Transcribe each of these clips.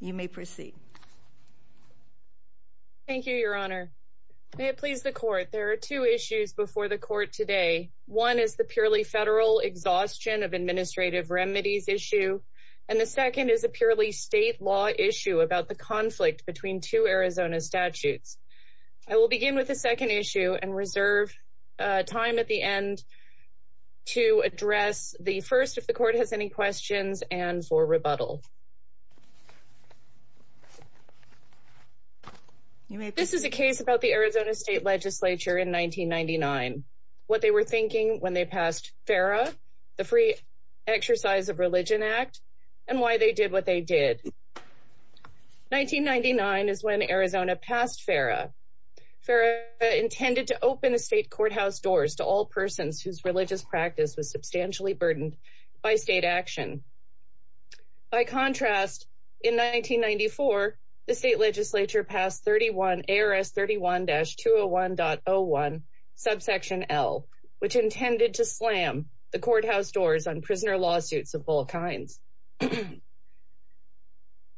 you may proceed. Thank you, Your Honor. May it please the court. There are two issues before the court today. One is the purely federal exhaustion of administrative remedies issue, and the second is a purely state law issue about the conflict between two Arizona statutes. I will begin with the second issue and reserve time at the end to address the first if the court has any questions and for rebuttal. This is a case about the Arizona State Legislature in 1999. What they were thinking when they passed FERA, the Free Exercise of Religion Act, and why they did what they did. 1999 is when Arizona passed FERA. FERA intended to open the state courthouse doors to all persons whose By contrast, in 1994 the state legislature passed ARS 31-201.01 subsection L, which intended to slam the courthouse doors on prisoner lawsuits of all kinds.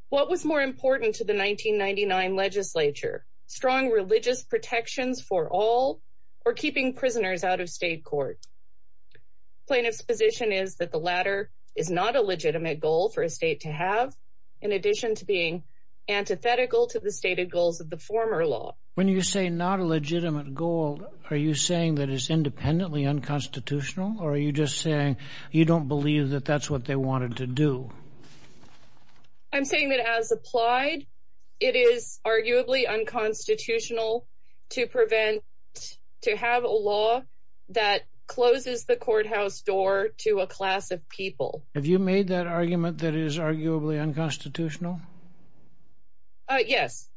What was more important to the 1999 legislature? Strong religious protections for all or keeping prisoners out of state court? Plaintiffs position is that the latter is not a legitimate goal for a state to have, in addition to being antithetical to the stated goals of the former law. When you say not a legitimate goal, are you saying that it's independently unconstitutional or are you just saying you don't believe that that's what they wanted to do? I'm saying that as applied, it is arguably unconstitutional to prevent, to have a law that closes the courthouse door to a class of people. Have you made that argument that is arguably unconstitutional? Yes.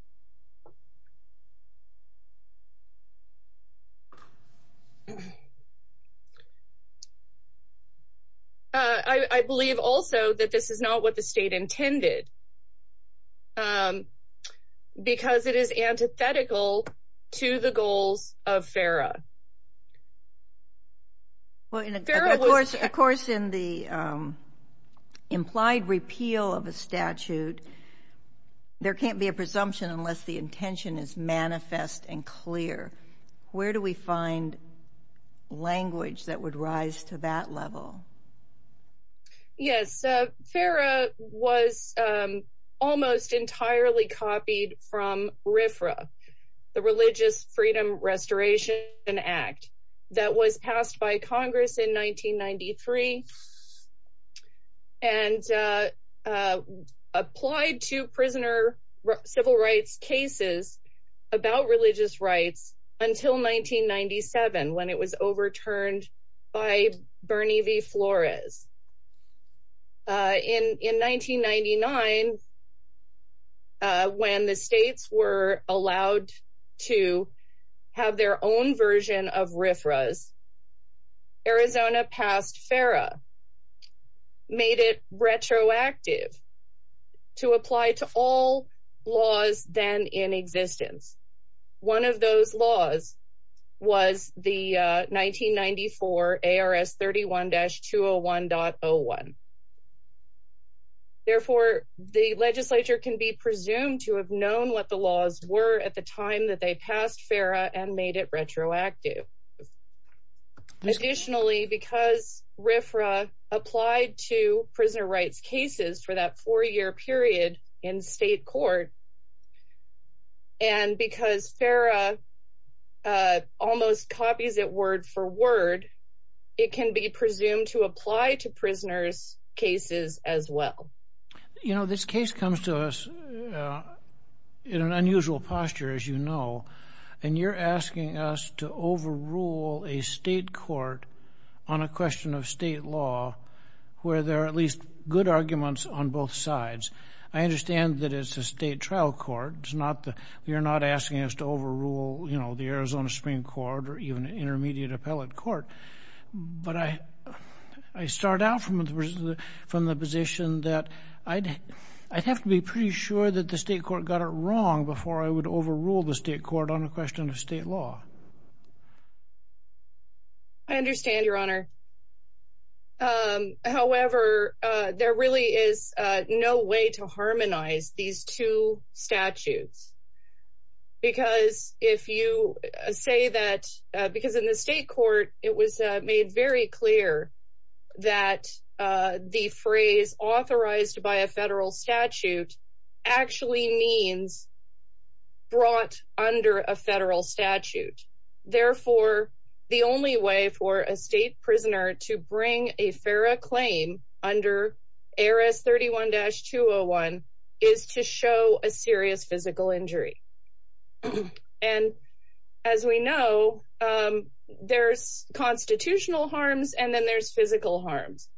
I believe also that this is not what the state intended because it is Well, of course, of course, in the implied repeal of a statute, there can't be a presumption unless the intention is manifest and clear. Where do we find language that would rise to that level? Yes, FARA was almost entirely copied from RFRA, the Religious Freedom Restoration Act that was passed by Congress in 1993 and applied to prisoner civil rights cases about religious rights until 1997 when it was overturned by Bernie V. Flores. In 1999, when the states were allowed to have their own version of RFRAs, Arizona passed FARA, made it retroactive to apply to all laws then in existence. One of those laws was the 1994 ARS 31-201.01. Therefore, the legislature can be presumed to have known what the laws were at the time that they passed FARA and made it retroactive. Additionally, because RFRA applied to prisoner rights cases for that four-year period in state court, and because FARA almost copies it word for word, it can be presumed to apply to prisoners' cases as well. You know, this is an unusual posture, as you know, and you're asking us to overrule a state court on a question of state law where there are at least good arguments on both sides. I understand that it's a state trial court. You're not asking us to overrule, you know, the Arizona Supreme Court or even an intermediate appellate court. But I start out from the position that I'd have to be pretty sure that the state court got it wrong before I would overrule the state court on a question of state law. I understand, Your Honor. However, there really is no way to harmonize these two statutes. Because if you say that, because in the state court, it was made very clear that the phrase authorized by a federal statute actually means brought under a federal statute. Therefore, the only way for a state prisoner to bring a FARA claim under ARES 31-201 is to show a serious physical injury. And as we know, there's constitutional harms and then there's physical harms.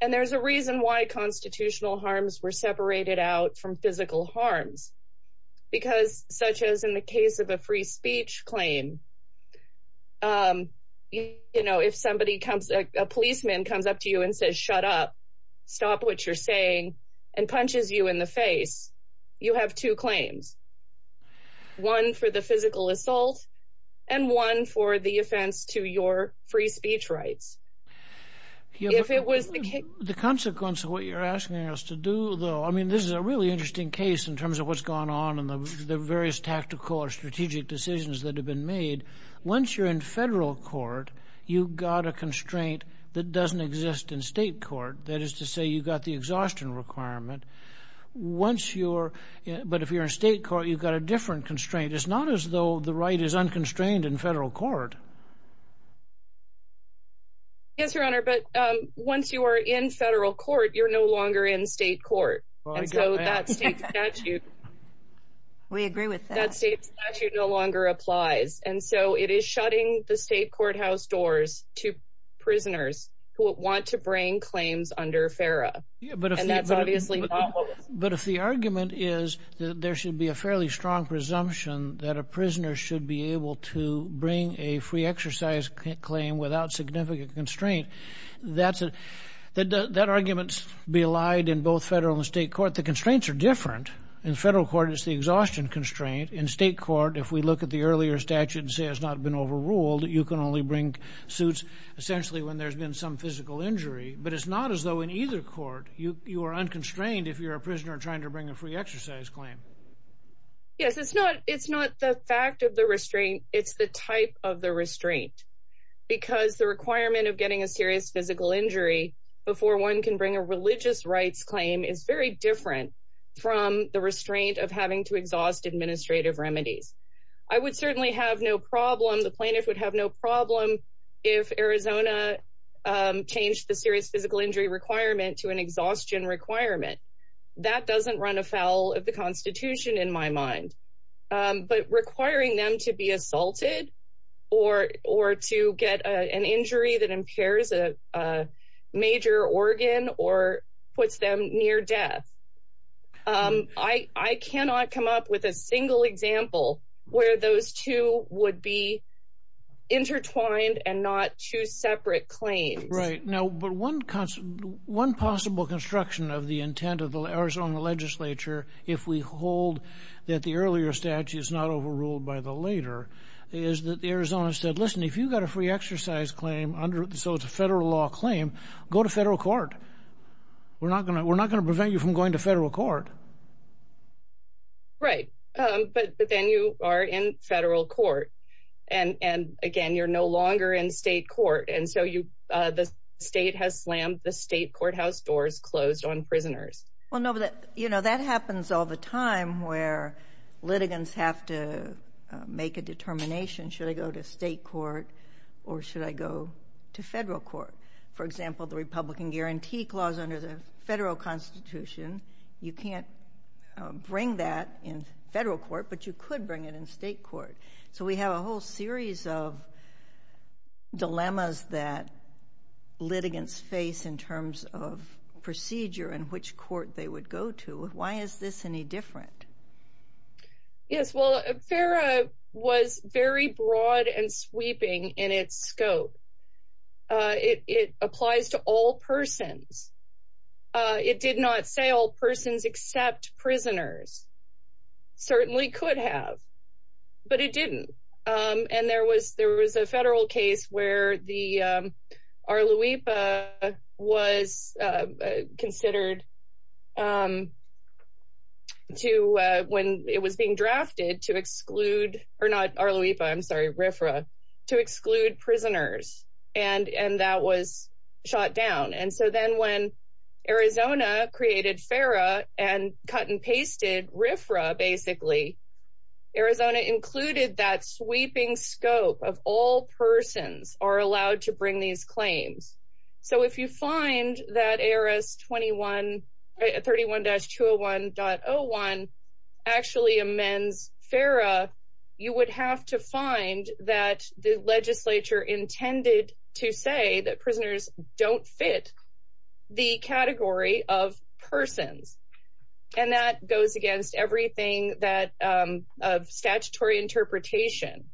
And there's a reason why constitutional harms were separated out from physical harms. Because such as in the case of a free speech claim, you know, if somebody comes, a policeman comes up to you and says, shut up, stop what you're saying, and punches you in the face, you have two claims. One for the physical assault, and one for the offense to your free speech rights. If it was the consequence of what you're asking us to do, though, I mean, this is a really interesting case in terms of what's gone on in the various tactical or strategic decisions that have been made. Once you're in federal court, you got a exhaustion requirement. Once you're, but if you're in state court, you've got a different constraint. It's not as though the right is unconstrained in federal court. Yes, Your Honor, but once you are in federal court, you're no longer in state court. And so that state statute no longer applies. And so it is shutting the state courthouse doors to prisoners who want to bring claims under FARA. Yeah, but if that's obviously, but if the argument is that there should be a fairly strong presumption that a prisoner should be able to bring a free exercise claim without significant constraint, that's it. That that arguments be allied in both federal and state court. The constraints are different. In federal court, it's the exhaustion constraint. In state court, if we look at the earlier statute and say it's not been overruled, you can only bring suits essentially when there's been some physical injury. But it's not as though in either court, you are unconstrained if you're a prisoner trying to bring a free exercise claim. Yes, it's not. It's not the fact of the restraint. It's the type of the restraint, because the requirement of getting a serious physical injury before one can bring a religious rights claim is very different from the restraint of having to exhaust administrative remedies. I would certainly have no problem. The plaintiff would have no problem if Arizona changed the serious physical injury requirement to an exhaustion requirement. That doesn't run afoul of the Constitution in my mind. But requiring them to be assaulted or or to get an injury that impairs a major organ or puts them near death. I cannot come up with a single example where those two would be intertwined and not choose separate claims. Right. Now, but one possible construction of the intent of the Arizona legislature, if we hold that the earlier statute is not overruled by the later, is that Arizona said, listen, if you've got a free exercise claim, so it's a federal law claim, go to federal court. We're not going to prevent you from going to federal court. Right. But then you are in federal court. And again, you're no longer in state court. And so you the state has slammed the state courthouse doors closed on prisoners. Well, no, but you know, that happens all the time where litigants have to make a determination. Should I go to state court or should I go to federal court? For example, the Republican Guarantee Clause under the federal Constitution, you can't bring that in federal court, but you could bring it in state court. So we have a whole series of dilemmas that litigants face in terms of procedure and which court they would go to. Why is this any different? Yes, well, FARA was very broad and sweeping in its scope. It applies to all persons. It did not say all persons except prisoners. Certainly could have, but it didn't. And there was there was a federal case where the Arluipa was considered to when it was being drafted to exclude or not Arluipa, I'm sorry, RFRA, to exclude prisoners. And and that was shot down. And so then when Arizona created FARA and cut and pasted RFRA, basically, Arizona included that sweeping scope of all persons are allowed to bring these claims. So if you find that ARS 31-201.01 actually amends FARA, you would have to find that the persons and that goes against everything that of statutory interpretation.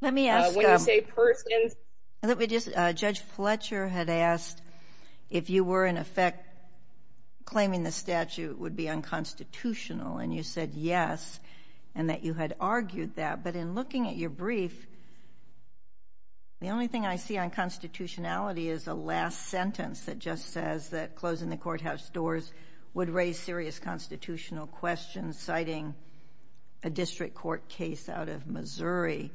Let me ask when you say persons, let me just Judge Fletcher had asked if you were in effect claiming the statute would be unconstitutional. And you said yes, and that you had argued that. But in looking at your brief, the only thing I see on constitutionality is a last sentence that just says that closing the courthouse doors would raise serious constitutional questions citing a district court case out of Missouri.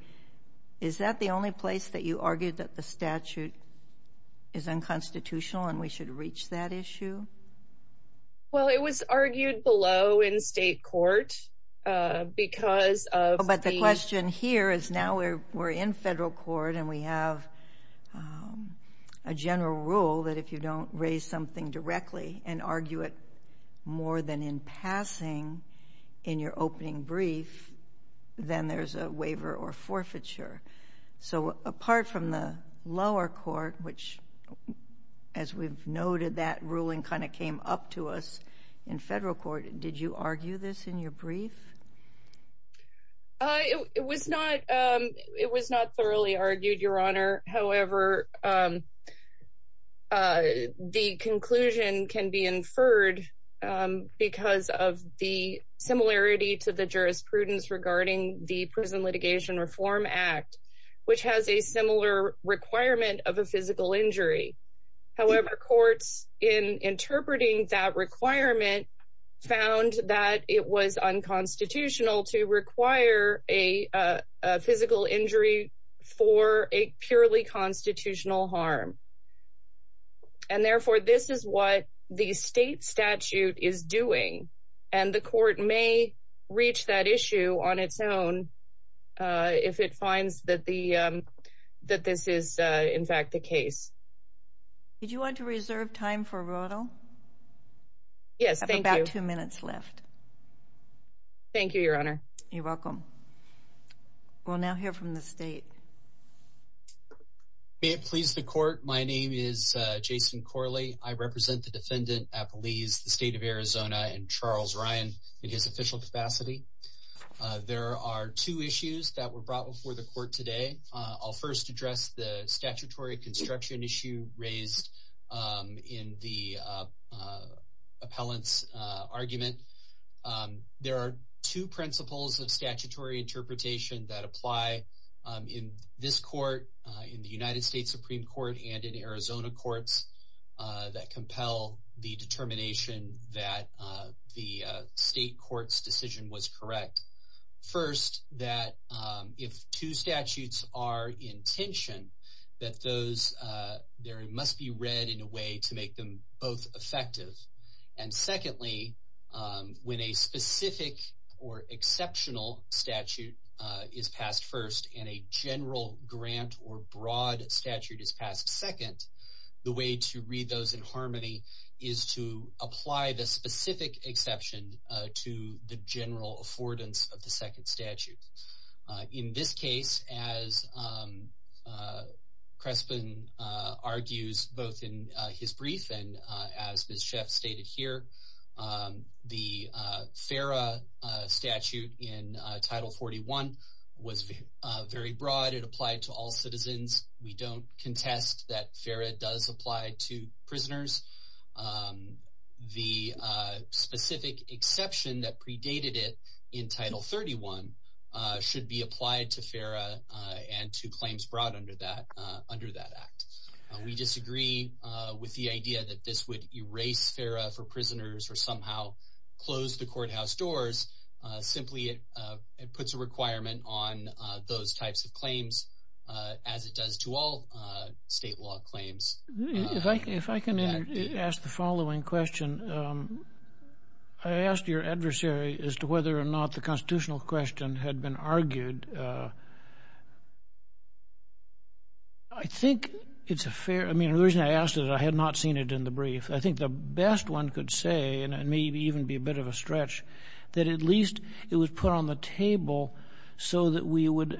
Is that the only place that you argued that the statute is unconstitutional and we should reach that issue? Well, it was argued below in state court because of but the question here is now we're we're in federal court and we have a general rule that if you don't raise something directly and argue it more than in passing in your opening brief, then there's a waiver or forfeiture. So apart from the lower court, which as we've noted, that ruling kind of came up to us in federal court. Did you argue this in your brief? It was not. It was not thoroughly argued, Your Honor. However, the conclusion can be inferred because of the similarity to the jurisprudence regarding the Prison Litigation Reform Act, which has a similar requirement of a physical injury. However, courts in interpreting that requirement found that it was unconstitutional to require a physical injury for a purely constitutional harm. And therefore, this is what the state statute is doing. And the court may reach that issue on its own if it finds that the that this is, in fact, the case. Did you want to reserve time for Rodel? Yes, thank you. About two minutes left. Thank you, Your Honor. You're welcome. We'll now hear from the state. May it please the court. My name is Jason Corley. I represent the defendant at Belize, the state of Arizona, and Charles Ryan in his official capacity. There are two issues that raised in the appellant's argument. There are two principles of statutory interpretation that apply in this court, in the United States Supreme Court, and in Arizona courts that compel the determination that the state court's decision was correct. First, that if two statutes are in tension, that those must be read in a way to make them both effective. And secondly, when a specific or exceptional statute is passed first and a general grant or broad statute is passed second, the way to read those in harmony is to apply the specific exception to the general grant. Crespin argues both in his brief and as Ms. Sheff stated here, the FARA statute in Title 41 was very broad. It applied to all citizens. We don't contest that FARA does apply to prisoners. The specific exception that predated it in Title 31 should be applied to FARA and to claims brought under that act. We disagree with the idea that this would erase FARA for prisoners or somehow close the courthouse doors. Simply, it puts a requirement on those types of claims as it does to all state law claims. If I can ask the following question. I asked your adversary as to whether or not the constitutional question had been argued. I think it's a fair, I mean, the reason I asked it, I had not seen it in the brief. I think the best one could say, and it may even be a bit of a stretch, that at least it was put on the table so that we would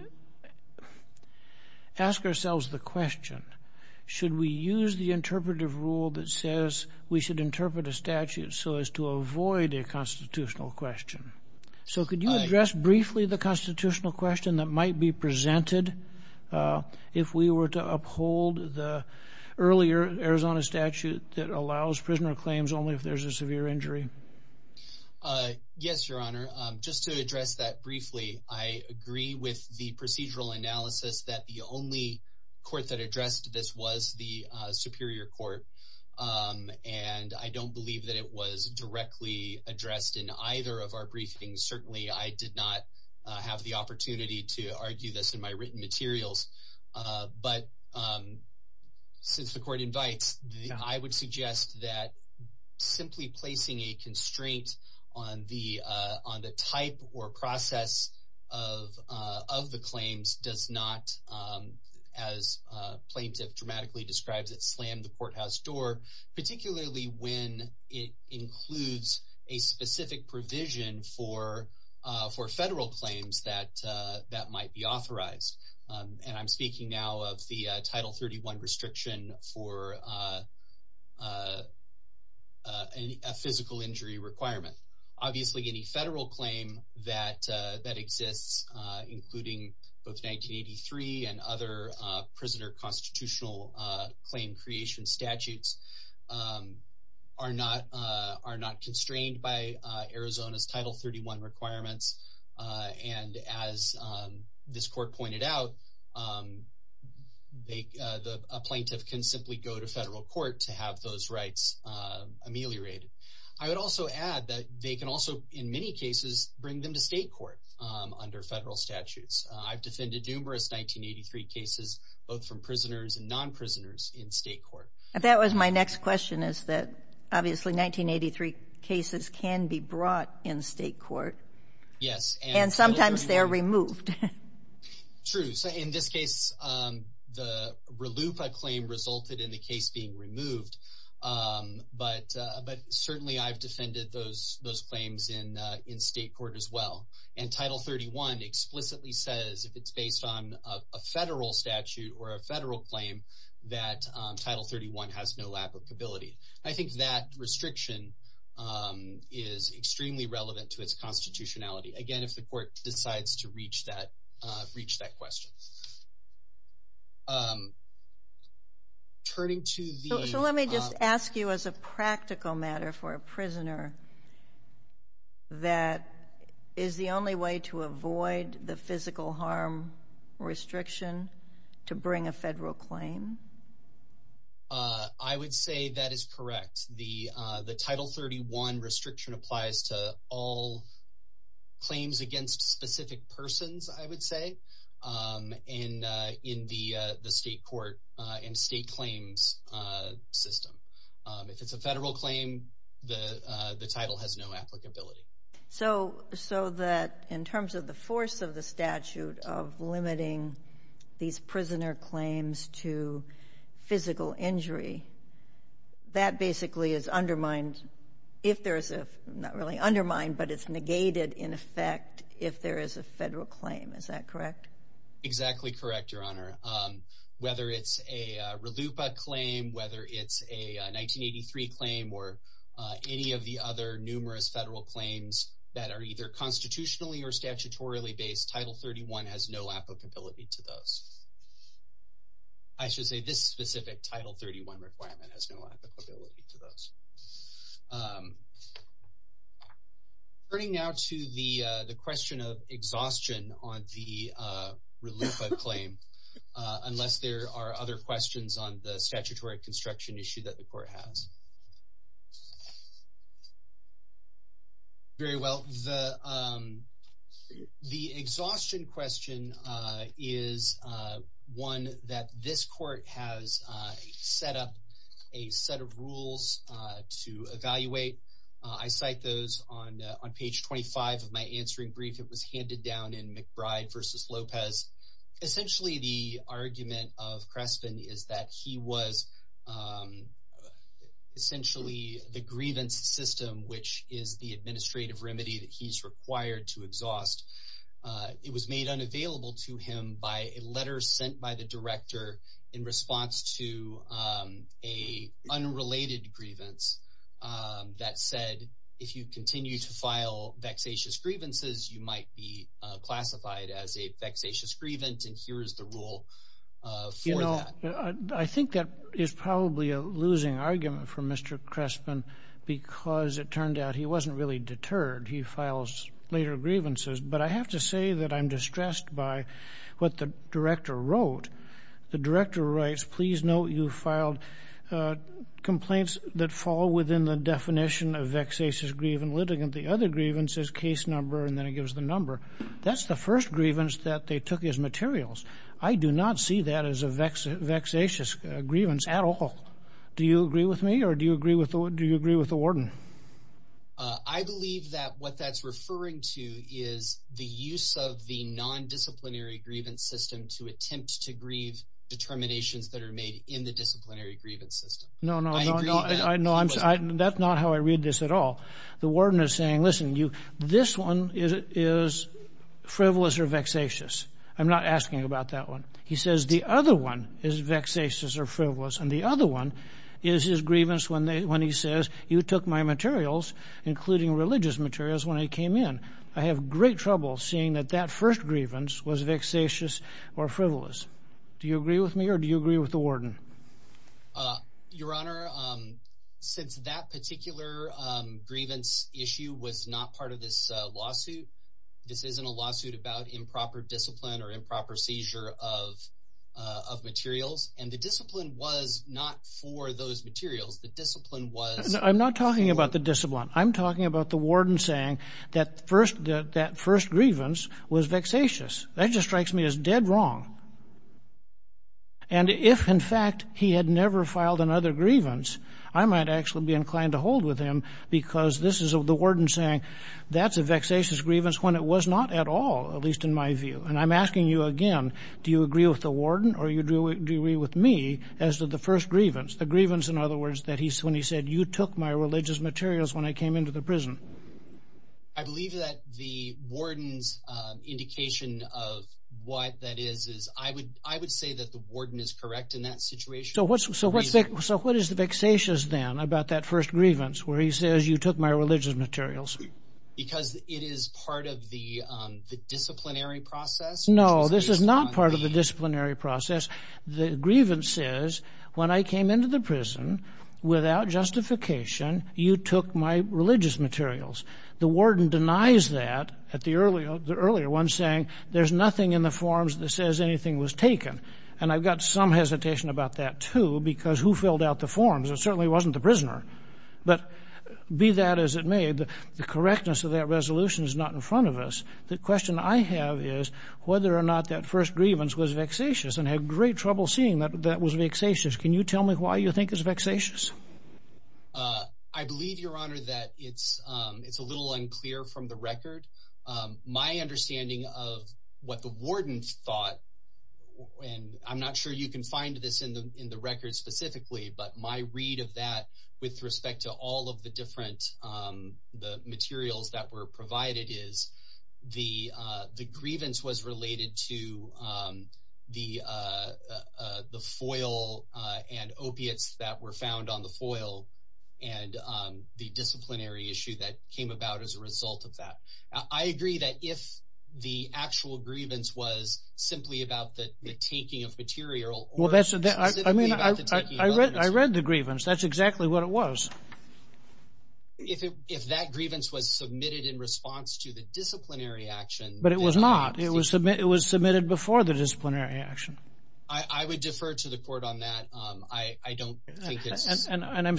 ask ourselves the question, should we use the interpretive rule that says we should interpret a statute so as to avoid a constitutional question? So could you address briefly the constitutional question that might be presented if we were to uphold the earlier Arizona statute that allows prisoner claims only if there's a severe injury? Yes, your honor. Just to address that briefly, I agree with the procedural analysis that the only court that addressed this was the Superior Court, and I don't believe that it was directly addressed in either of our briefings. Certainly, I did not have the opportunity to argue this in my written materials, but since the court invites, I would suggest that simply placing a constraint on the type or process of the claims does not, as a plaintiff dramatically describes it, slam the courthouse door, particularly when it includes a specific provision for federal claims that might be authorized. And I'm speaking now of the Title 31 restriction for a physical injury requirement. Obviously, any federal claim that exists, including both 1983 and other prisoner constitutional claim creation statutes, are not constrained by Arizona's Title 31 requirements. And as this court pointed out, a plaintiff can simply go to federal court to have those rights ameliorated. I would also add that they can also, in many cases, bring them to state court under federal statutes. I've defended numerous 1983 cases, both from prisoners and non-prisoners, in state court. That was my next question, is that obviously 1983 cases can be brought in state court. Yes. And sometimes they're the RLUIPA claim resulted in the case being removed, but certainly I've defended those claims in state court as well. And Title 31 explicitly says, if it's based on a federal statute or a federal claim, that Title 31 has no applicability. I think that restriction is extremely relevant to its constitutionality, again, if the court decides to reach that question. So let me just ask you as a practical matter for a prisoner, that is the only way to avoid the physical harm restriction to bring a federal claim? I would say that is correct. The Title 31 restriction applies to all claims against specific persons, I would say, in the state court and state claims system. If it's a federal claim, the title has no applicability. So that in terms of the force of the statute of limiting these prisoner claims to physical injury, that basically is undermined if there is a, not really undermined, but it's negated in effect if there is a federal claim. Is that correct? Exactly correct, Your Honor. Whether it's a RLUIPA claim, whether it's a 1983 claim, or any of the other numerous federal claims that are either constitutionally or statutorily based, Title 31 has no applicability to those. I should say this specific Title 31 requirement has no applicability to those. Turning now to the question of exhaustion on the RLUIPA claim, unless there are other questions on the statutory construction issue that the court has. Very well. The exhaustion question is one that this court has set up a set of rules to evaluate. I cite those on page 25 of my answering brief. It was handed down in is that he was essentially the grievance system, which is the administrative remedy that he's required to exhaust. It was made unavailable to him by a letter sent by the director in response to a unrelated grievance that said, if you continue to file vexatious grievances, you might be classified as a vexatious grievance, and here's the rule for that. I think that is probably a losing argument for Mr. Crespin because it turned out he wasn't really deterred. He files later grievances, but I have to say that I'm distressed by what the director wrote. The director writes, please note you filed complaints that fall within the definition of vexatious grievance litigant. The other grievance is case number, and then it gives the number. That's the first grievance that they took as materials. I do not see that as a vexatious grievance at all. Do you agree with me, or do you agree with the warden? I believe that what that's referring to is the use of the non-disciplinary grievance system to attempt to grieve determinations that are made in the disciplinary grievance system. No, that's not how I read this at all. The warden is saying, listen, this one is frivolous or vexatious. I'm not asking about that one. He says the other one is vexatious or frivolous, and the other one is his grievance when he says you took my materials, including religious materials, when I came in. I have great trouble seeing that that first grievance was vexatious or frivolous. Do you agree with me, or do you agree with the warden? Your Honor, since that particular grievance issue was not part of this lawsuit, this isn't a lawsuit about improper discipline or improper seizure of materials, and the discipline was not for those materials. The discipline was... I'm not talking about the discipline. I'm talking about the warden saying that first grievance was vexatious. That just strikes me as dead wrong. And if, in fact, he had never filed another grievance, I might actually be inclined to hold with him because this is the warden saying that's a vexatious grievance when it was not at all, at least in my view. And I'm asking you again, do you agree with the warden or do you agree with me as to the first grievance? The grievance, in other words, when he said you took my religious materials when I came into the prison. I believe that the warden's indication of what that is is I would say that the warden is correct in that situation. So what is the vexatious then about that first grievance where he says you took my religious materials? Because it is part of the disciplinary process. No, this is not part of the disciplinary process. The grievance says when I came into the prison without justification, you took my religious materials. The warden denies that at the earlier one, saying there's nothing in the forms that says anything was taken. And I've got some hesitation about that, too, because who filled out the forms? It certainly wasn't the prisoner. But be that as it may, the correctness of that resolution is not in front of us. The question I have is whether or not that first grievance was vexatious and had great trouble seeing that that was vexatious. Can you tell me why you think it's vexatious? I believe, Your Honor, that it's a little unclear from the record. My understanding of what the warden thought, and I'm not sure you can find this in the record specifically, but my read of that with respect to all of the different materials that were provided is the grievance was related to the foil and opiates that were found on the foil and the disciplinary issue that came about as a result of that. I agree that if the actual grievance was simply about the taking of material... I read the grievance. That's exactly what it was. If that grievance was submitted in before the disciplinary action. I would defer to the court on that. I don't think it's... And I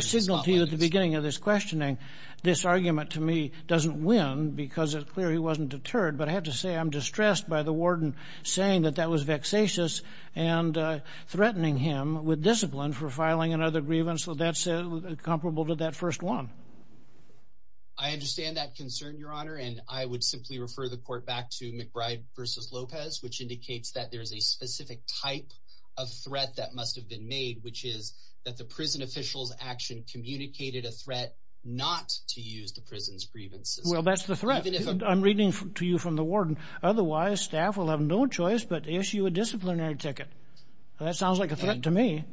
signaled to you at the beginning of this questioning, this argument to me doesn't win because it's clear he wasn't deterred, but I have to say I'm distressed by the warden saying that that was vexatious and threatening him with discipline for filing another grievance that's comparable to that first one. I understand that concern, Your Honor, and I would simply refer the court back to McBride v. Lopez, which indicates that there's a specific type of threat that must have been made, which is that the prison official's action communicated a threat not to use the prison's grievance system. Well, that's the threat. I'm reading to you from the warden. Otherwise, staff will have no choice but issue a disciplinary ticket. That sounds like a threat to me.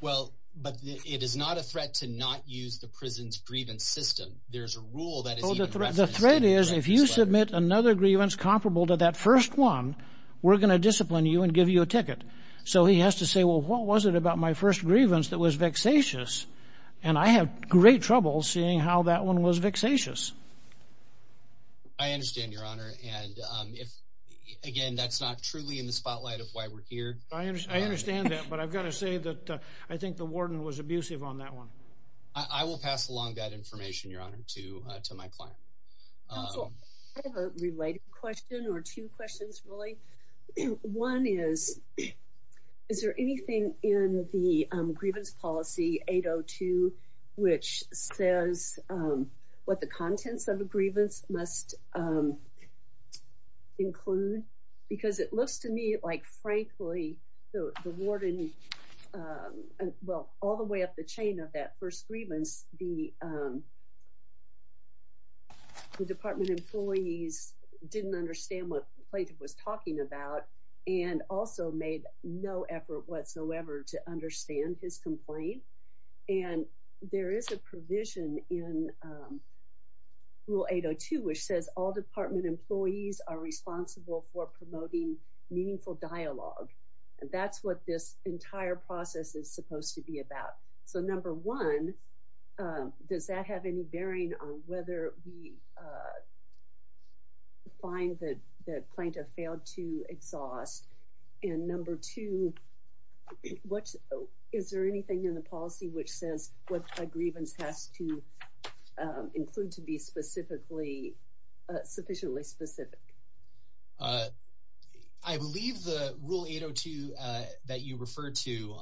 Well, but it is not a threat to not use the prison's threat. The threat is if you submit another grievance comparable to that first one, we're going to discipline you and give you a ticket. So he has to say, well, what was it about my first grievance that was vexatious? And I have great trouble seeing how that one was vexatious. I understand, Your Honor, and if, again, that's not truly in the spotlight of why we're here. I understand that, but I've got to say that I think the warden was abusive on that one. I will pass along that information, Your Honor, to my client. I have a related question or two questions, really. One is, is there anything in the grievance policy 802 which says what the contents of a grievance must include? Because it looks to me like, frankly, the warden, well, all the way up the chain of that first grievance, the department employees didn't understand what the plaintiff was talking about and also made no effort whatsoever to understand his complaint. And there is a provision in Rule 802 which says all department employees are responsible for promoting meaningful dialogue. That's what this entire process is supposed to be about. So, number one, does that have any bearing on whether we find that the plaintiff failed to exhaust? And number two, is there anything in the policy which says what a grievance has to include to be sufficiently specific? I believe the Rule 802 that you referred to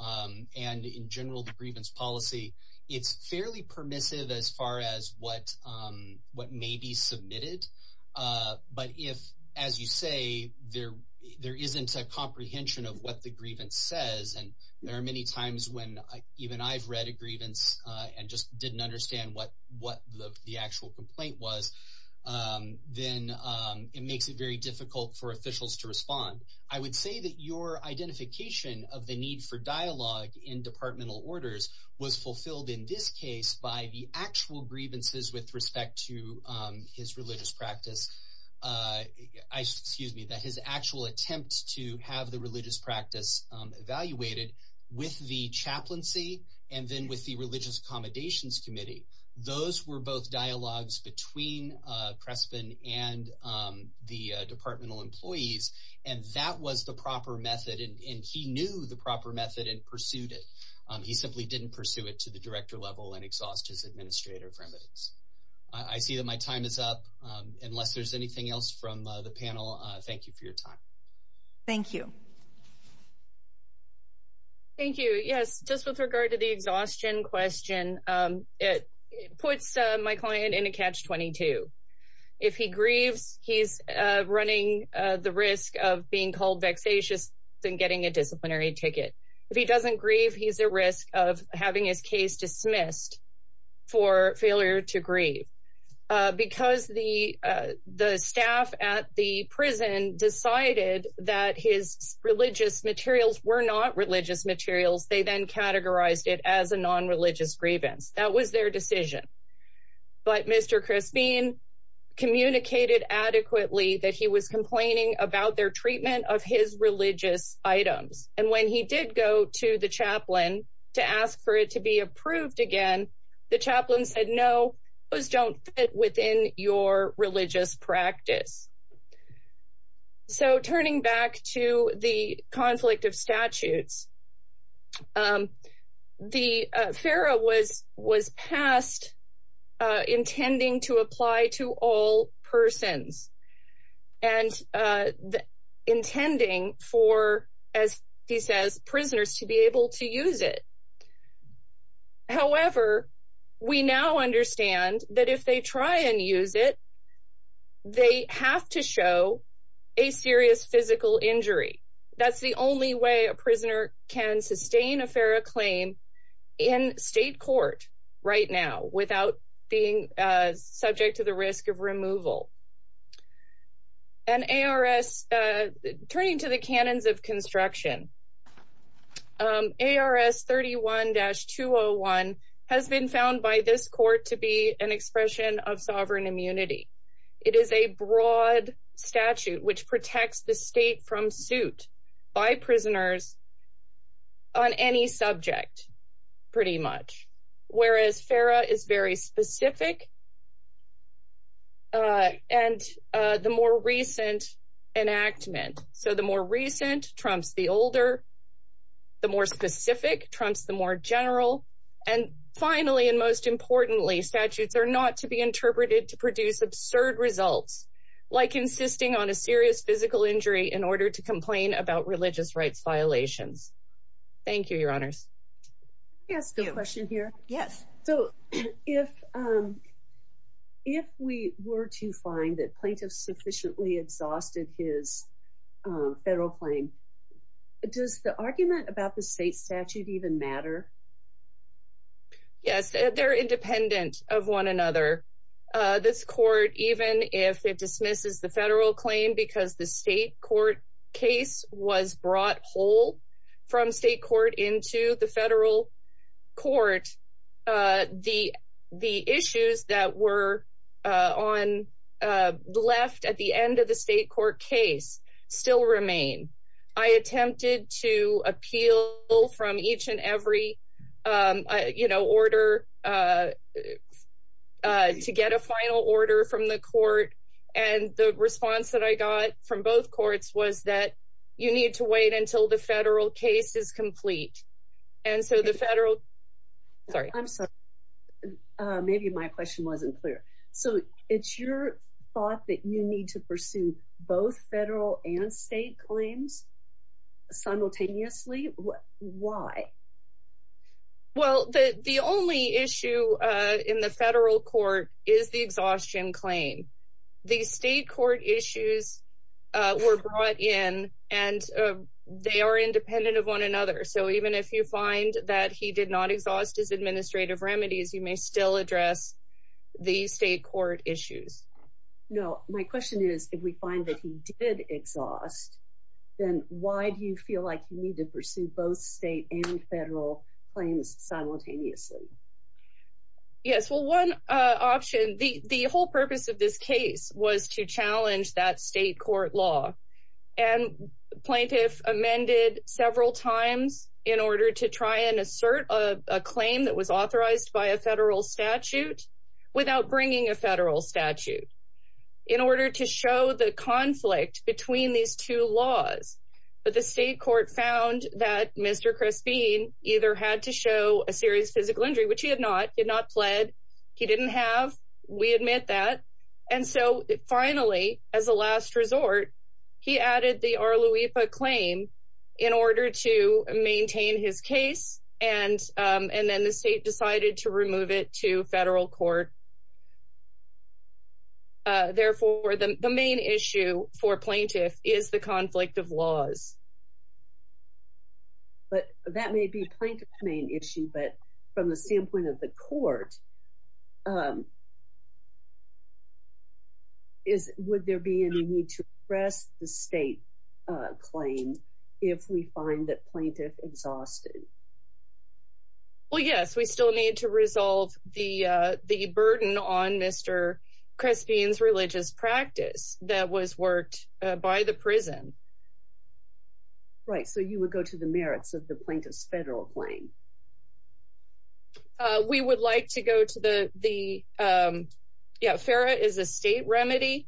and, in general, the grievance policy, it's fairly permissive as far as what may be submitted. But if, as you say, there isn't a comprehension of what the grievance says, and there are many times when even I've read a grievance and just didn't understand what the actual complaint was, then it makes it very difficult for officials to respond. I would say that your identification of the need for dialogue in departmental orders was fulfilled in this case by the actual grievances with respect to his religious practice, excuse me, that his actual attempt to have the religious practice evaluated with the chaplaincy and then with the Religious Accommodations Committee. Those were both dialogues between Prespin and the departmental employees, and that was the proper method, and he knew the proper method and pursued it. He simply didn't pursue it to the director level and exhaust his administrator for evidence. I see that my time is up. Unless there's anything else from the panel, thank you for your time. Thank you. Thank you. Yes, just with regard to the exhaustion question, it puts my client in a catch-22. If he grieves, he's running the risk of being called vexatious and getting a disciplinary ticket. If he doesn't grieve, he's at risk of having his case dismissed for failure to grieve. Because the staff at the prison decided that his religious materials were not religious materials, they then categorized it as a non-religious grievance. That was their decision. But Mr. Prespin communicated adequately that he was complaining about their treatment of his religious items, and when he did go to the chaplain to ask for it to be approved again, the chaplain said, no, those don't fit within your religious practice. So, turning back to the conflict of statutes, the FARA was passed intending to apply to all We now understand that if they try and use it, they have to show a serious physical injury. That's the only way a prisoner can sustain a FARA claim in state court right now without being subject to the risk of removal. And ARS, turning to the canons of construction, ARS 31-201 has been found by this court to be an expression of sovereign immunity. It is a broad statute which protects the state from suit by prisoners on any subject, pretty much. Whereas the more recent trumps the older, the more specific trumps the more general. And finally, and most importantly, statutes are not to be interpreted to produce absurd results, like insisting on a serious physical injury in order to complain about religious rights violations. Thank you, your honors. Can I ask a question here? Yes. So, if we were to find that plaintiff sufficiently exhausted his federal claim, does the argument about the state statute even matter? Yes, they're independent of one another. This court, even if it dismisses the federal claim because the state court case was brought whole from state court into the federal court, the issues that were left at the end of the state court case still remain. I attempted to appeal from each and every, you know, order to get a final order from the court. And the response that I got from both courts was that you need to wait until the federal case is complete. And so the federal, sorry, I'm sorry. Maybe my question wasn't clear. So it's your thought that you need to pursue both federal and state claims simultaneously. Why? Well, the only issue in the federal court is the exhaustion claim. The state court issues were brought in, and they are independent of one another. So even if you find that he did not exhaust his administrative remedies, you may still address the state court issues. No, my question is, if we find that he did exhaust, then why do you feel like you need to pursue both state and federal claims simultaneously? Yes. Well, one option, the whole purpose of this case was to challenge that state court law. And plaintiff amended several times in order to try and assert a claim that was authorized by a federal statute without bringing a federal statute in order to show the conflict between these two laws. But the state court found that Mr. Crespin either had to show a serious physical injury, which he had not, did not plead. He didn't have. We admit that. And so finally, as a last resort, he added the Arluipa claim in order to maintain his case, and then the state decided to remove it to federal court. Therefore, the main issue for plaintiff is the conflict of laws. But that may be plaintiff's main issue, but from the standpoint of the court, um, is would there be any need to press the state claim if we find that plaintiff exhausted? Well, yes, we still need to resolve the burden on Mr. Crespin's religious practice that was worked by the prison. Right. So you would go to the merits of the plaintiff's federal claim. Uh, we would like to go to the, the, um, yeah, FARA is a state remedy.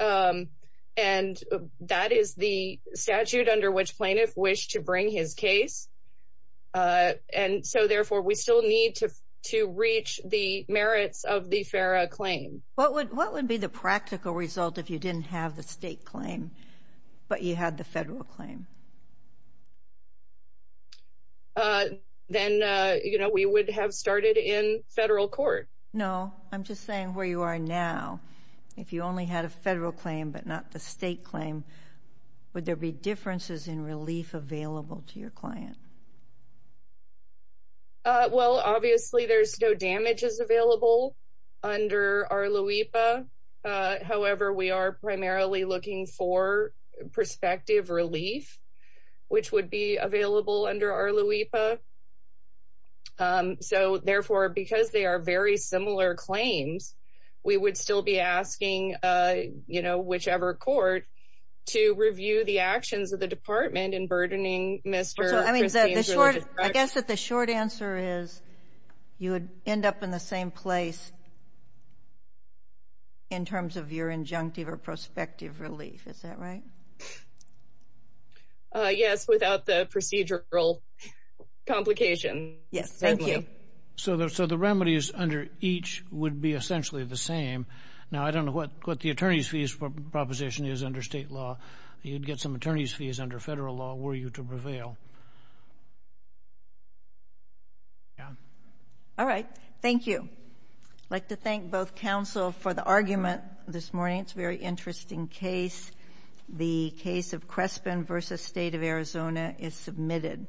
Um, and that is the statute under which plaintiff wished to bring his case. Uh, and so therefore, we still need to, to reach the merits of the FARA claim. What would, what would be the practical result if you didn't have the state claim, but you had the federal claim? Uh, then, uh, you know, we would have started in federal court. No, I'm just saying where you are now, if you only had a federal claim, but not the state claim, would there be differences in relief available to your client? Uh, well, obviously there's no damages available under our LUIPA. Uh, however, we are primarily looking for prospective relief, which would be available under our LUIPA. Um, so therefore, because they are very similar claims, we would still be asking, uh, you know, whichever court to review the actions of the department in burdening Mr. I mean, I guess that the short answer is you would end up in the same place in terms of your injunctive or prospective relief. Is that right? Uh, yes, without the procedural complication. Yes, thank you. So the, so the remedies under each would be essentially the same. Now, I don't know what, what the attorney's fees proposition is under state law. You'd get some attorney's fees under federal law were you to prevail. Yeah. All right. Thank you. I'd like to thank both counsel for the argument this morning. It's a very interesting case. The case of Crespin v. State of Arizona is submitted.